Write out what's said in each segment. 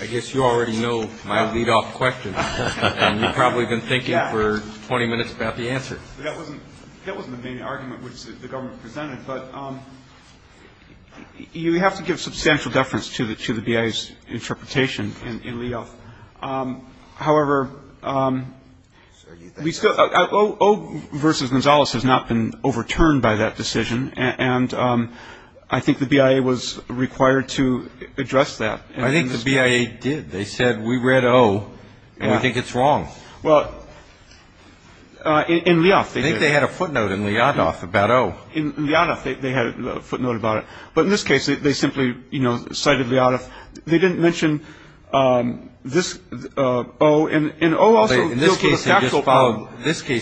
I guess you already know my lead-off question, and you've probably been thinking for 20 minutes about the answer. That wasn't the main argument which the government presented, but you have to give substantial deference to the BIA's interpretation in lead-off. However, O v. Gonzales has not been overturned by that decision, and I think the BIA was required to address that. I think the BIA did. They said, we read O, and we think it's wrong. Well, in Lyadov, they did. I think they had a footnote in Lyadov about O. In Lyadov, they had a footnote about it. But in this case, they simply cited Lyadov. They didn't mention this O. In this case,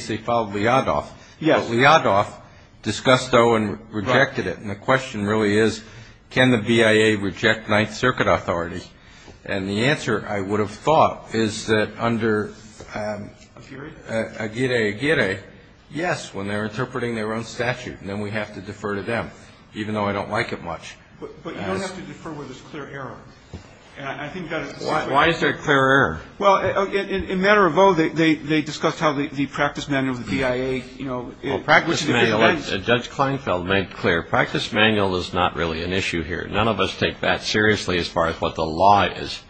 they followed Lyadov, but Lyadov discussed O and rejected it. And the question really is, can the BIA reject Ninth Circuit authority? And the answer, I would have thought, is that under Aguirre-Aguirre, yes, when they're interpreting their own statute. And then we have to defer to them, even though I don't like it much. But you don't have to defer where there's clear error. Why is there clear error? Well, in matter of O, they discussed how the practice manual of the BIA, you know, which is a defense. Well, practice manual, as Judge Kleinfeld made clear, practice manual is not really an issue here. None of us take that seriously as far as what the law is.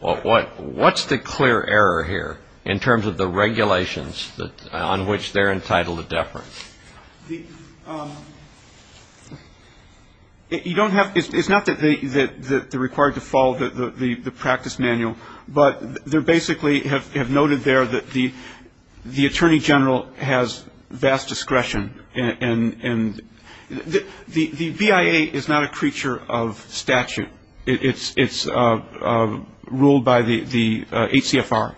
What's the clear error here in terms of the regulations on which they're entitled to defer? It's not that they're required to follow the practice manual, but they basically have noted there that the attorney general has vast discretion. And the BIA is not a creature of statute. It's ruled by the HCFR.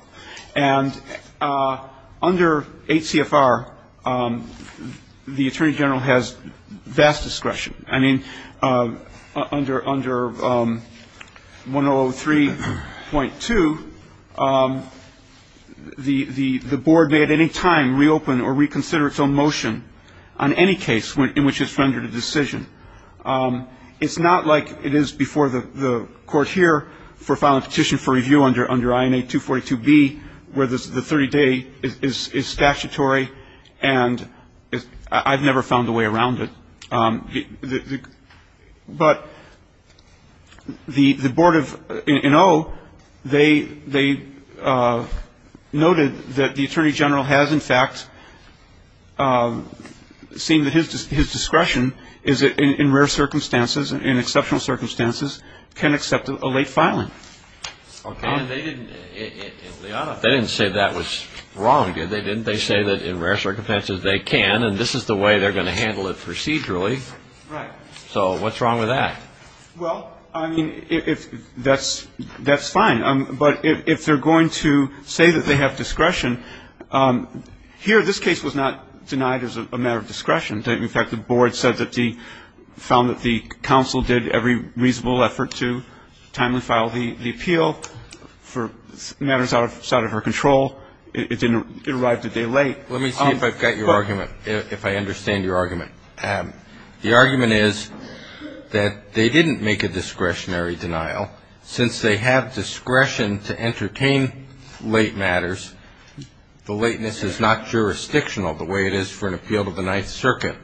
And under HCFR, the attorney general has vast discretion. I mean, under 1003.2, the board may at any time reopen or reconsider its own motion on any case in which it's rendered a decision. It's not like it is before the Court here for filing a petition for review under INA 242B, where the 30-day is statutory and I've never found a way around it. But the board of O, they noted that the attorney general has, in fact, seen that his discretion is in rare circumstances, in exceptional circumstances, can accept a late filing. Okay. And they didn't say that was wrong, did they? Didn't they say that in rare circumstances they can, and this is the way they're going to handle it procedurally? Right. So what's wrong with that? Well, I mean, that's fine. But if they're going to say that they have discretion, here this case was not denied as a matter of discretion. In fact, the board said that they found that the counsel did every reasonable effort to timely file the appeal for matters outside of her control. It arrived a day late. Let me see if I've got your argument, if I understand your argument. The argument is that they didn't make a discretionary denial. Since they have discretion to entertain late matters, the lateness is not jurisdictional the way it is for an appeal to the Ninth Circuit.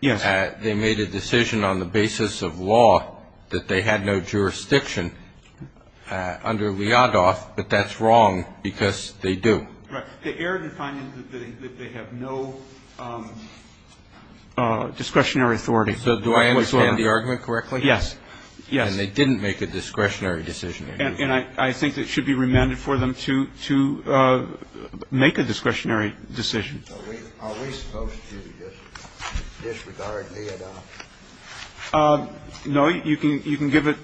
Yes. They made a decision on the basis of law that they had no jurisdiction under Liadoff, but that's wrong because they do. Right. They erred in finding that they have no discretionary authority. So do I understand the argument correctly? Yes. Yes. And they didn't make a discretionary decision. And I think it should be remanded for them to make a discretionary decision. Are we supposed to disregard Liadoff? No. You can give it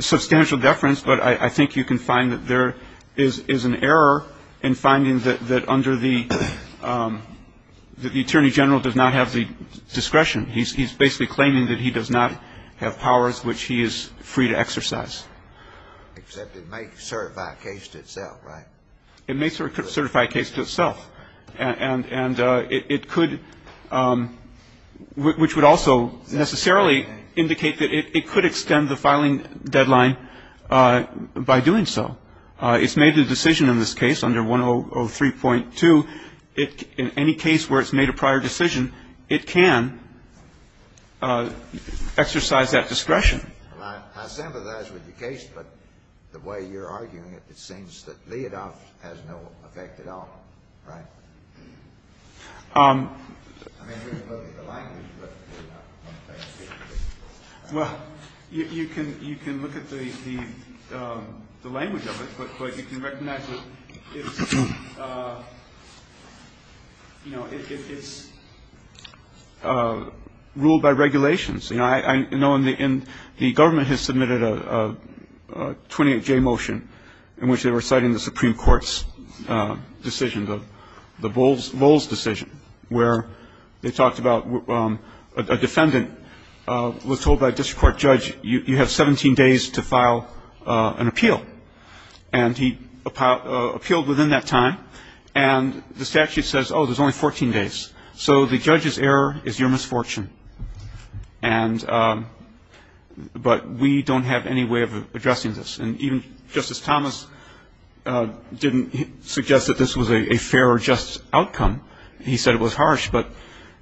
substantial deference, but I think you can find that there is an error in finding that under the attorney general does not have the discretion. He's basically claiming that he does not have powers which he is free to exercise. Except it may certify a case to itself, right? It may certify a case to itself. And it could, which would also necessarily indicate that it could extend the filing deadline by doing so. It's made a decision in this case under 103.2. In any case where it's made a prior decision, it can exercise that discretion. I sympathize with your case, but the way you're arguing it, it seems that Liadoff has no effect at all, right? I mean, we're looking at the language, but we're not going to take it. Well, you can look at the language of it, but you can recognize that it's, you know, it's ruled by regulations. You know, I know in the government has submitted a 28J motion in which they were citing the Supreme Court's decision, the Vols decision, where they talked about a defendant was told by a district court judge, you have 17 days to file an appeal. And he appealed within that time. And the statute says, oh, there's only 14 days. So the judge's error is your misfortune. And but we don't have any way of addressing this. And even Justice Thomas didn't suggest that this was a fair or just outcome. He said it was harsh. But,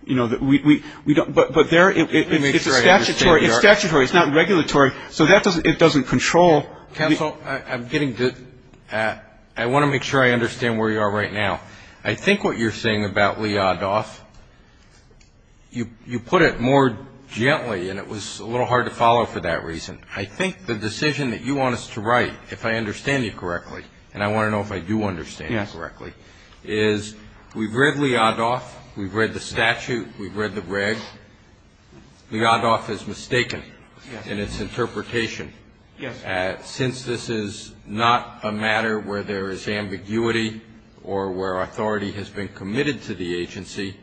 you know, we don't, but there, it's statutory. It's statutory. It's not regulatory. So that doesn't, it doesn't control. Counsel, I'm getting to, I want to make sure I understand where you are right now. I think what you're saying about Liadoff, you put it more gently, and it was a little hard to follow for that reason. I think the decision that you want us to write, if I understand you correctly, and I want to know if I do understand you correctly, is we've read Liadoff. We've read the statute. We've read the reg. Liadoff is mistaken in its interpretation. Yes. Since this is not a matter where there is ambiguity or where authority has been committed to the agency,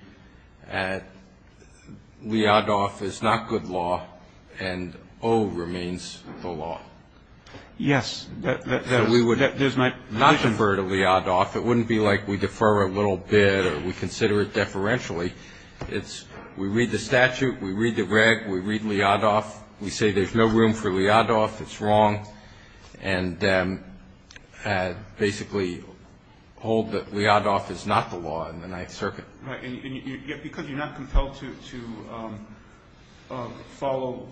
Liadoff is not good law, and O remains the law. Yes. So we would not defer to Liadoff. It wouldn't be like we defer a little bit or we consider it deferentially. It's we read the statute. We read the reg. We read Liadoff. We say there's no room for Liadoff. It's wrong, and basically hold that Liadoff is not the law in the Ninth Circuit. Right. And yet because you're not compelled to follow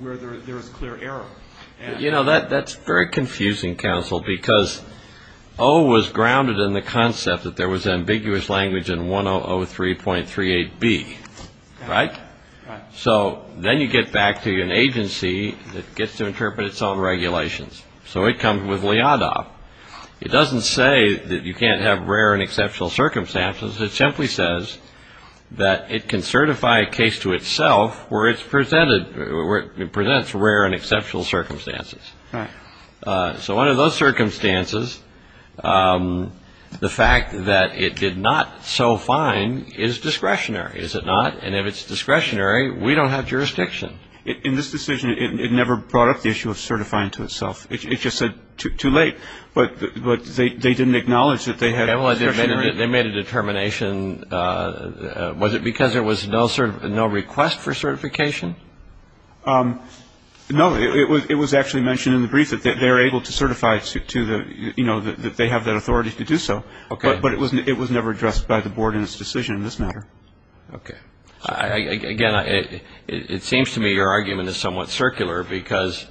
where there is clear error. You know, that's very confusing, counsel, because O was grounded in the concept that there was ambiguous language in 1003.38B. Right? Right. So then you get back to an agency that gets to interpret its own regulations. So it comes with Liadoff. It doesn't say that you can't have rare and exceptional circumstances. It simply says that it can certify a case to itself where it presents rare and exceptional circumstances. Right. So under those circumstances, the fact that it did not so fine is discretionary, is it not? And if it's discretionary, we don't have jurisdiction. In this decision, it never brought up the issue of certifying to itself. It just said too late. But they didn't acknowledge that they had discretionary. They made a determination. Was it because there was no request for certification? No. It was actually mentioned in the brief that they're able to certify to the, you know, that they have that authority to do so. Okay. But it was never addressed by the board in its decision in this matter. Okay. Again, it seems to me your argument is somewhat circular, because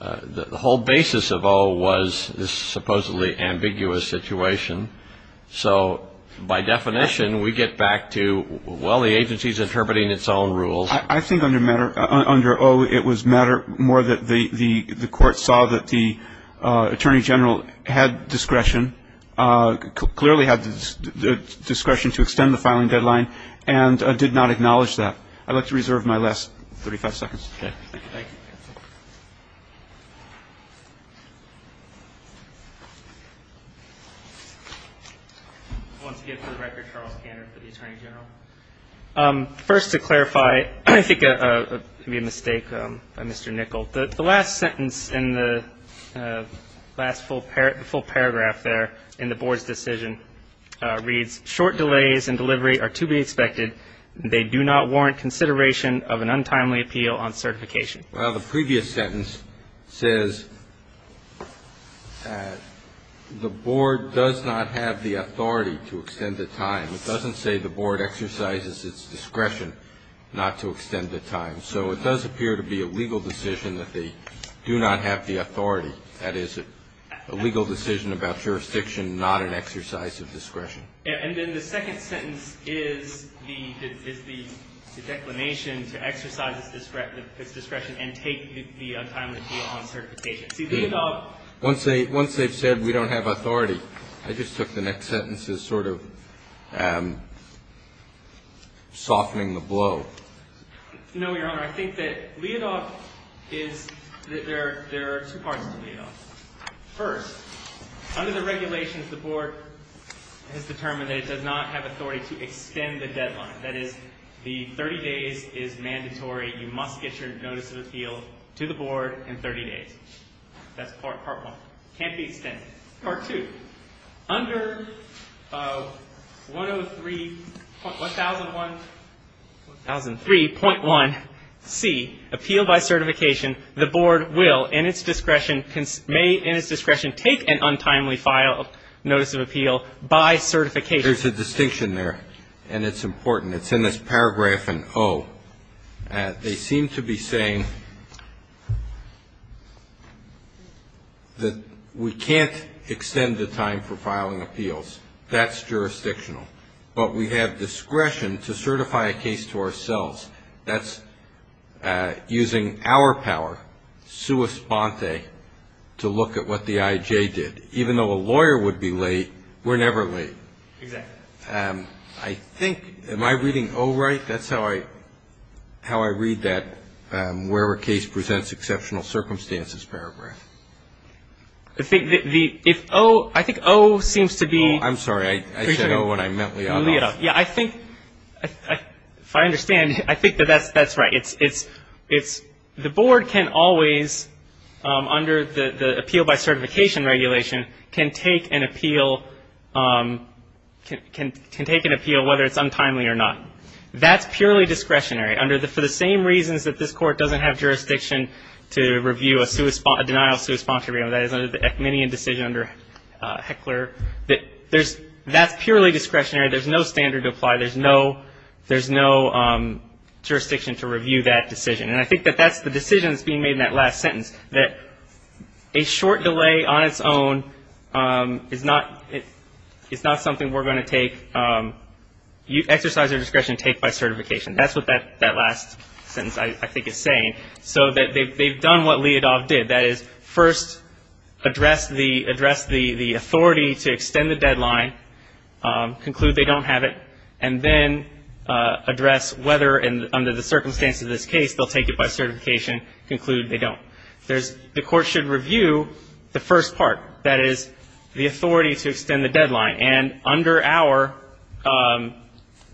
the whole basis of O was this supposedly ambiguous situation. So by definition, we get back to, well, the agency is interpreting its own rules. I think under matter under O, it was matter more that the court saw that the attorney general had discretion, clearly had discretion to extend the filing deadline, and did not acknowledge that. I'd like to reserve my last 35 seconds. Okay. Thank you. Once again, for the record, Charles Kanner for the attorney general. First, to clarify, I think it could be a mistake by Mr. Nichol. The last sentence in the last full paragraph there in the board's decision reads, Well, the previous sentence says the board does not have the authority to extend the time. It doesn't say the board exercises its discretion not to extend the time. So it does appear to be a legal decision that they do not have the authority. That is a legal decision about jurisdiction, not an exercise of discretion. And then the second sentence is the declination to exercise its discretion and take the untimely deal on certification. Once they've said we don't have authority, I just took the next sentence as sort of softening the blow. No, Your Honor. I think that Leodoc is, there are two parts to Leodoc. First, under the regulations, the board has determined that it does not have authority to extend the deadline. That is, the 30 days is mandatory. You must get your notice of appeal to the board in 30 days. That's part one. Can't be extended. Part two. Under 103.1C, appeal by certification, the board will, in its discretion, may in its discretion take an untimely file notice of appeal by certification. There's a distinction there, and it's important. It's in this paragraph in O. They seem to be saying that we can't extend the time for filing appeals. That's jurisdictional. But we have discretion to certify a case to ourselves. That's using our power, sua sponte, to look at what the I.J. did. Even though a lawyer would be late, we're never late. Exactly. I think, am I reading O right? That's how I read that, where a case presents exceptional circumstances paragraph. I think O seems to be. I'm sorry. I said O, and I meant Liadoff. Yeah, I think, if I understand, I think that that's right. The board can always, under the appeal by certification regulation, can take an appeal whether it's untimely or not. That's purely discretionary. For the same reasons that this Court doesn't have jurisdiction to review a denial of sua sponte freedom, that is under the Ekmanian decision under Heckler, that's purely discretionary. There's no standard to apply. There's no jurisdiction to review that decision. And I think that that's the decision that's being made in that last sentence, that a short delay on its own is not something we're going to take, exercise our discretion to take by certification. That's what that last sentence, I think, is saying. So they've done what Liadoff did. That is first address the authority to extend the deadline, conclude they don't have it, and then address whether, under the circumstances of this case, they'll take it by certification, conclude they don't. The Court should review the first part, that is the authority to extend the deadline. And under our,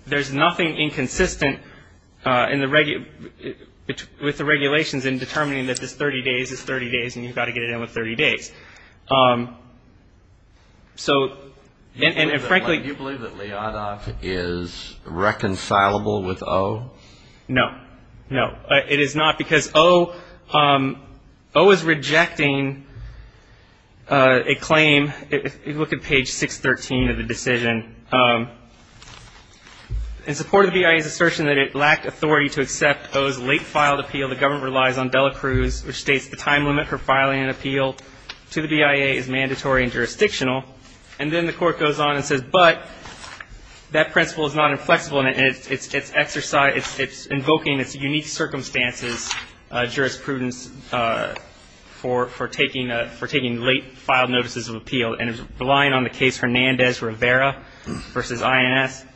there's nothing inconsistent with the regulations in determining that this 30 days is 30 days and you've got to get it in with 30 days. So, and frankly. Do you believe that Liadoff is reconcilable with O? No. No. It is not because O is rejecting a claim. If you look at page 613 of the decision, in support of the BIA's assertion that it lacked authority to accept O's late-filed appeal, the government relies on Dela Cruz, which states the time limit for filing an appeal to the BIA is mandatory and jurisdictional. And then the Court goes on and says, but that principle is not inflexible and it's invoking its unique circumstances, jurisprudence, for taking late-filed notices of appeal. And it's relying on the case Hernandez-Rivera versus INS.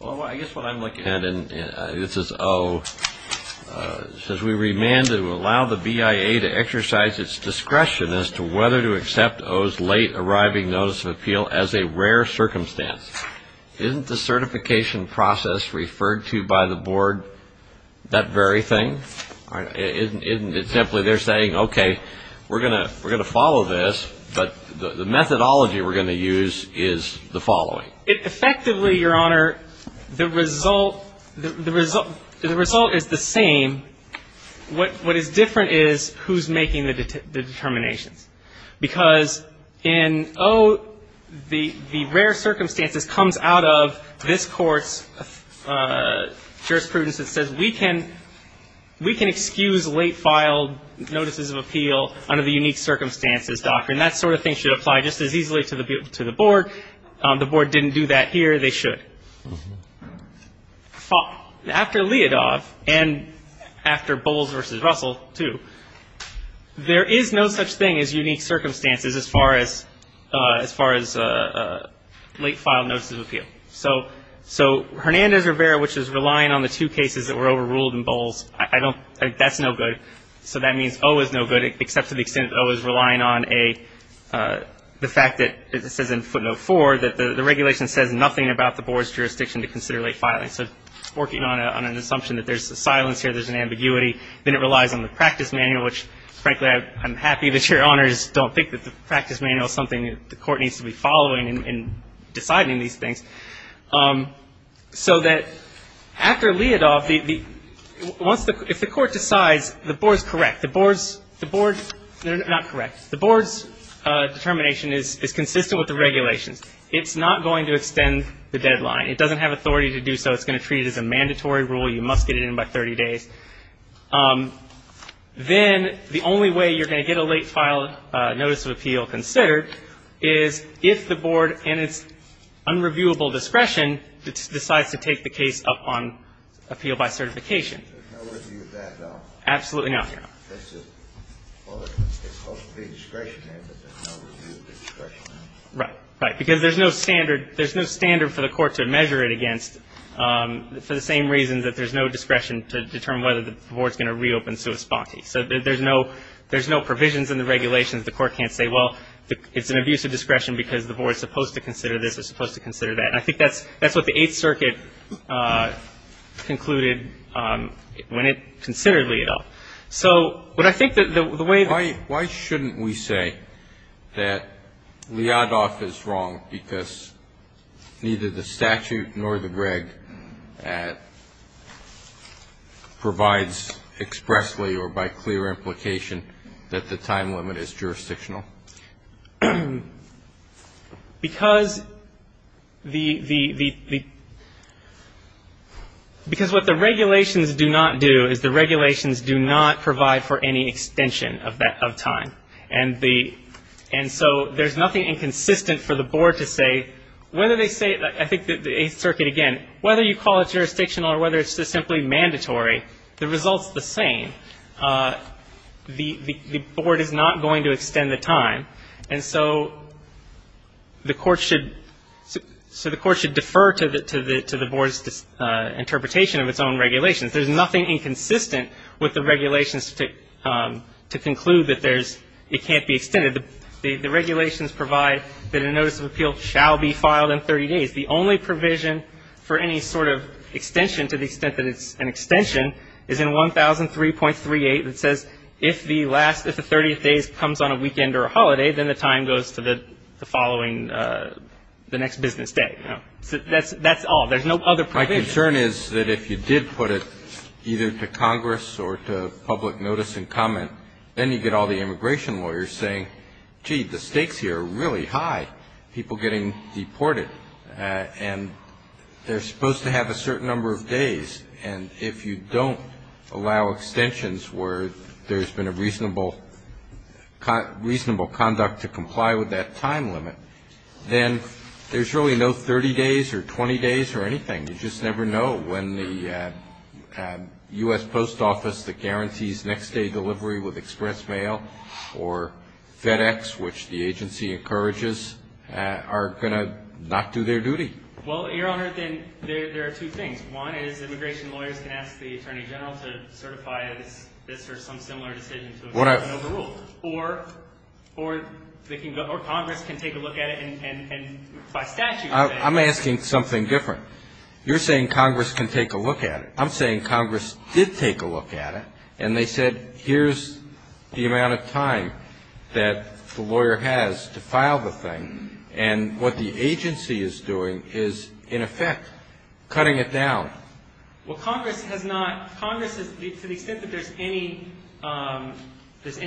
Well, I guess what I'm looking at, and this is O, says we remand to allow the BIA to exercise its discretion as to whether to accept O's late-arriving notice of appeal as a rare circumstance. Isn't the certification process referred to by the Board that very thing? Isn't it simply they're saying, okay, we're going to follow this, but the methodology we're going to use is the following. Well, effectively, Your Honor, the result is the same. What is different is who's making the determinations, because in O, the rare circumstances comes out of this Court's jurisprudence that says we can excuse late-filed notices of appeal under the unique circumstances doctrine. That sort of thing should apply just as easily to the Board. The Board didn't do that here. They should. After Leodov and after Bowles v. Russell, too, there is no such thing as unique circumstances as far as late-filed notices of appeal. So Hernandez-Rivera, which is relying on the two cases that were overruled in Bowles, I don't think that's no good. So that means O is no good, except to the extent that O is relying on the fact that it says in footnote 4 that the regulation says nothing about the Board's jurisdiction to consider late-filing. So working on an assumption that there's a silence here, there's an ambiguity, then it relies on the practice manual, which, frankly, I'm happy that Your Honors don't think that the practice manual is something that the Court needs to be following in deciding these things. So that after Leodov, if the Court decides the Board's correct, the Board's determination is consistent with the regulations. It's not going to extend the deadline. It doesn't have authority to do so. It's going to treat it as a mandatory rule. You must get it in by 30 days. Then the only way you're going to get a late-filed notice of appeal considered is if the Board and its unreviewable discretion decides to take the case up on appeal by certification. There's no review of that, though? Absolutely not, Your Honor. It's supposed to be discretionary, but there's no review of discretionary. Right, right, because there's no standard for the Court to measure it against for the same reasons that there's no discretion to determine whether the Board's going to reopen sua sponte. So there's no provisions in the regulations. The Court can't say, well, it's an abuse of discretion because the Board's supposed to consider this, it's supposed to consider that. And I think that's what the Eighth Circuit concluded when it considered Leodov. So, but I think that the way that the ---- Why shouldn't we say that Leodov is wrong because neither the statute nor the Gregg provides expressly or by clear implication that the time limit is jurisdictional? Because the ---- because what the regulations do not do is the regulations do not provide for any extension of time. And the ---- and so there's nothing inconsistent for the Board to say whether they say ---- I think that the Eighth Circuit, again, whether you call it jurisdictional or whether it's just simply mandatory, the result's the same. The Board is not going to extend the time. And so the Court should defer to the Board's interpretation of its own regulations. There's nothing inconsistent with the regulations to conclude that there's ---- it can't be extended. The regulations provide that a notice of appeal shall be filed in 30 days. The only provision for any sort of extension to the extent that it's an extension is in 1003.38 that says if the last ---- if the 30th day comes on a weekend or a holiday, then the time goes to the following ---- the next business day. So that's all. There's no other provision. My concern is that if you did put it either to Congress or to public notice and comment, then you get all the immigration lawyers saying, gee, the stakes here are really high, people getting deported, and they're supposed to have a certain number of days. And if you don't allow extensions where there's been a reasonable conduct to comply with that time limit, then there's really no 30 days or 20 days or anything. You just never know when the U.S. Post Office that guarantees next-day delivery with express mail or FedEx, which the agency encourages, are going to not do their duty. Well, Your Honor, then there are two things. One is immigration lawyers can ask the Attorney General to certify this or some similar decision to an overrule. Or Congress can take a look at it and by statute say ---- I'm asking something different. You're saying Congress can take a look at it. I'm saying Congress did take a look at it. And they said, here's the amount of time that the lawyer has to file the thing. And what the agency is doing is, in effect, cutting it down. Well, Congress has not ---- Congress, to the extent that there's any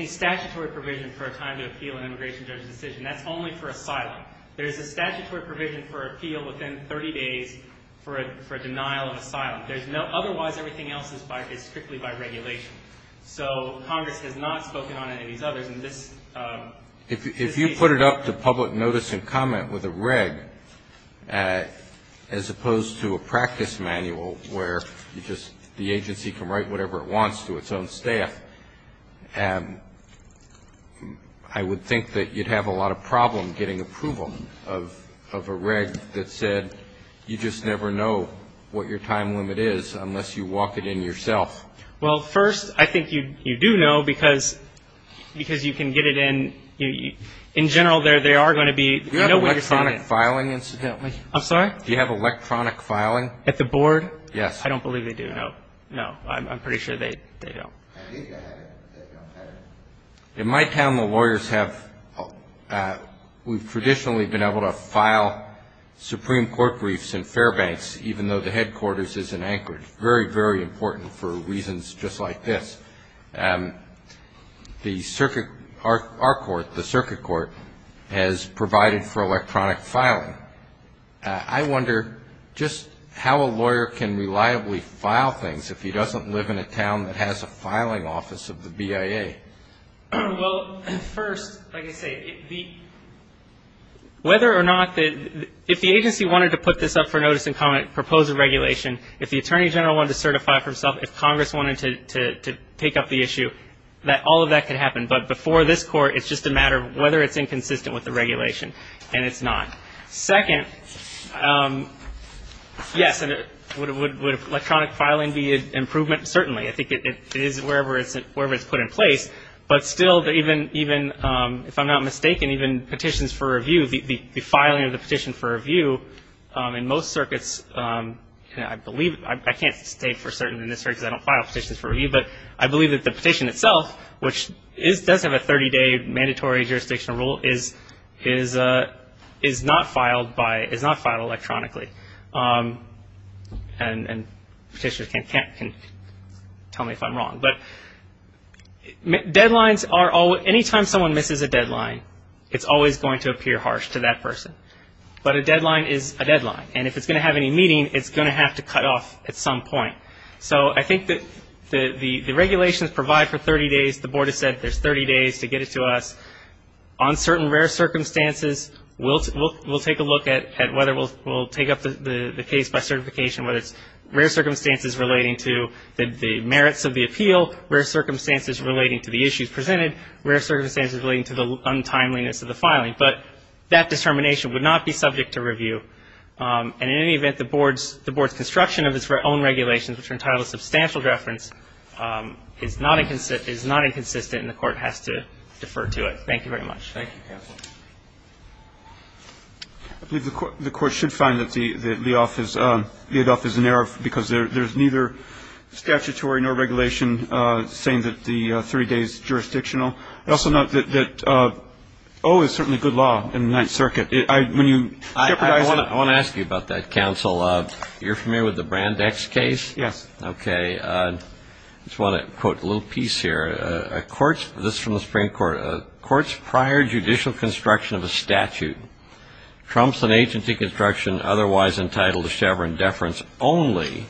statutory provision for a time to appeal an immigration judge's decision, that's only for asylum. There's a statutory provision for appeal within 30 days for a denial of asylum. There's no ---- otherwise everything else is strictly by regulation. So Congress has not spoken on any of these others. And this case ---- If you put it up to public notice and comment with a reg as opposed to a practice manual where you just ---- the agency can write whatever it wants to its own staff, I would think that you'd have a lot of problem getting approval of a reg that said, you just never know what your time limit is unless you walk it in yourself. Well, first, I think you do know because you can get it in. In general, there are going to be ---- Do you have electronic filing, incidentally? I'm sorry? Do you have electronic filing? At the board? Yes. I don't believe they do, no. No, I'm pretty sure they don't. I think I have it. I don't have it. In my town, the lawyers have ---- we've traditionally been able to file Supreme Court briefs in Fairbanks, even though the headquarters is in Anchorage. Very, very important for reasons just like this. Our court, the circuit court, has provided for electronic filing. I wonder just how a lawyer can reliably file things if he doesn't live in a town that has a filing office of the BIA. Well, first, like I say, whether or not the ---- if the agency wanted to put this up for notice and propose a regulation, if the Attorney General wanted to certify it for himself, if Congress wanted to take up the issue, all of that could happen. But before this court, it's just a matter of whether it's inconsistent with the regulation. And it's not. Second, yes, would electronic filing be an improvement? Certainly. I think it is wherever it's put in place. But still, even if I'm not mistaken, even petitions for review, the filing of the petition for review, in most circuits, I believe ---- I can't state for certain in this circuit because I don't file petitions for review, but I believe that the petition itself, which does have a 30-day mandatory jurisdictional rule, is not filed electronically. And petitioners can tell me if I'm wrong. But deadlines are always ---- anytime someone misses a deadline, it's always going to appear harsh to that person. But a deadline is a deadline. And if it's going to have any meaning, it's going to have to cut off at some point. So I think that the regulations provide for 30 days. The Board has said there's 30 days to get it to us. On certain rare circumstances, we'll take a look at whether we'll take up the case by certification, whether it's rare circumstances relating to the merits of the appeal, rare circumstances relating to the issues presented, rare circumstances relating to the untimeliness of the filing. But that determination would not be subject to review. And in any event, the Board's construction of its own regulations, which are entitled to substantial reference, is not inconsistent, and the Court has to defer to it. Thank you very much. Thank you, counsel. I believe the Court should find that the ad hof is in error because there's neither statutory nor regulation saying that the 30 days is jurisdictional. I also note that O is certainly good law in the Ninth Circuit. I want to ask you about that, counsel. You're familiar with the Brandex case? Yes. Okay. I just want to quote a little piece here. This is from the Supreme Court. A court's prior judicial construction of a statute trumps an agency construction otherwise entitled to Chevron deference only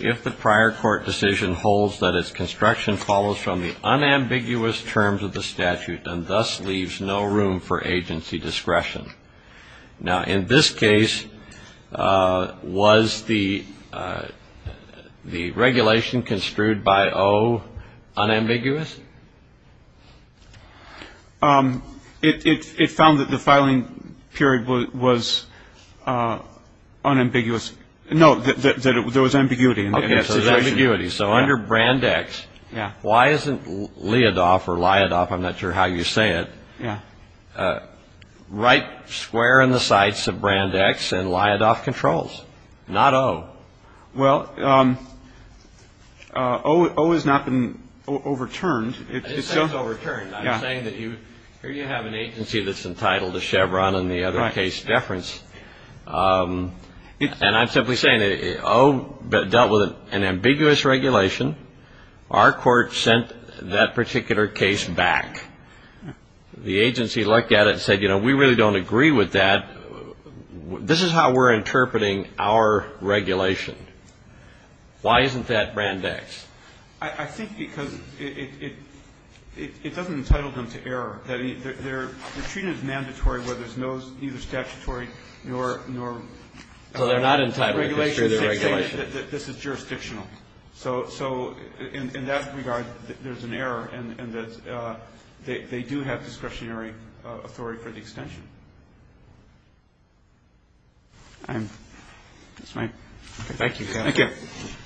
if the prior court decision holds that its construction follows from the unambiguous terms of the statute and thus leaves no room for agency discretion. Now, in this case, was the regulation construed by O unambiguous? It found that the filing period was unambiguous. No, that there was ambiguity in the situation. Okay, so there's ambiguity. So under Brandex, why isn't Leadoff or Liadoff, I'm not sure how you say it, right square in the sights of Brandex and Liadoff controls, not O? Well, O has not been overturned. It's overturned. I'm saying that here you have an agency that's entitled to Chevron and the other case deference. And I'm simply saying that O dealt with an ambiguous regulation. Our court sent that particular case back. The agency looked at it and said, you know, we really don't agree with that. This is how we're interpreting our regulation. Why isn't that Brandex? I think because it doesn't entitle them to error. The treatment is mandatory where there's neither statutory nor entitled regulation. So they're not entitled to the regulation. This is jurisdictional. So in that regard, there's an error in that they do have discretionary authority for the extension. Thank you, counsel. Thank you. Thank you.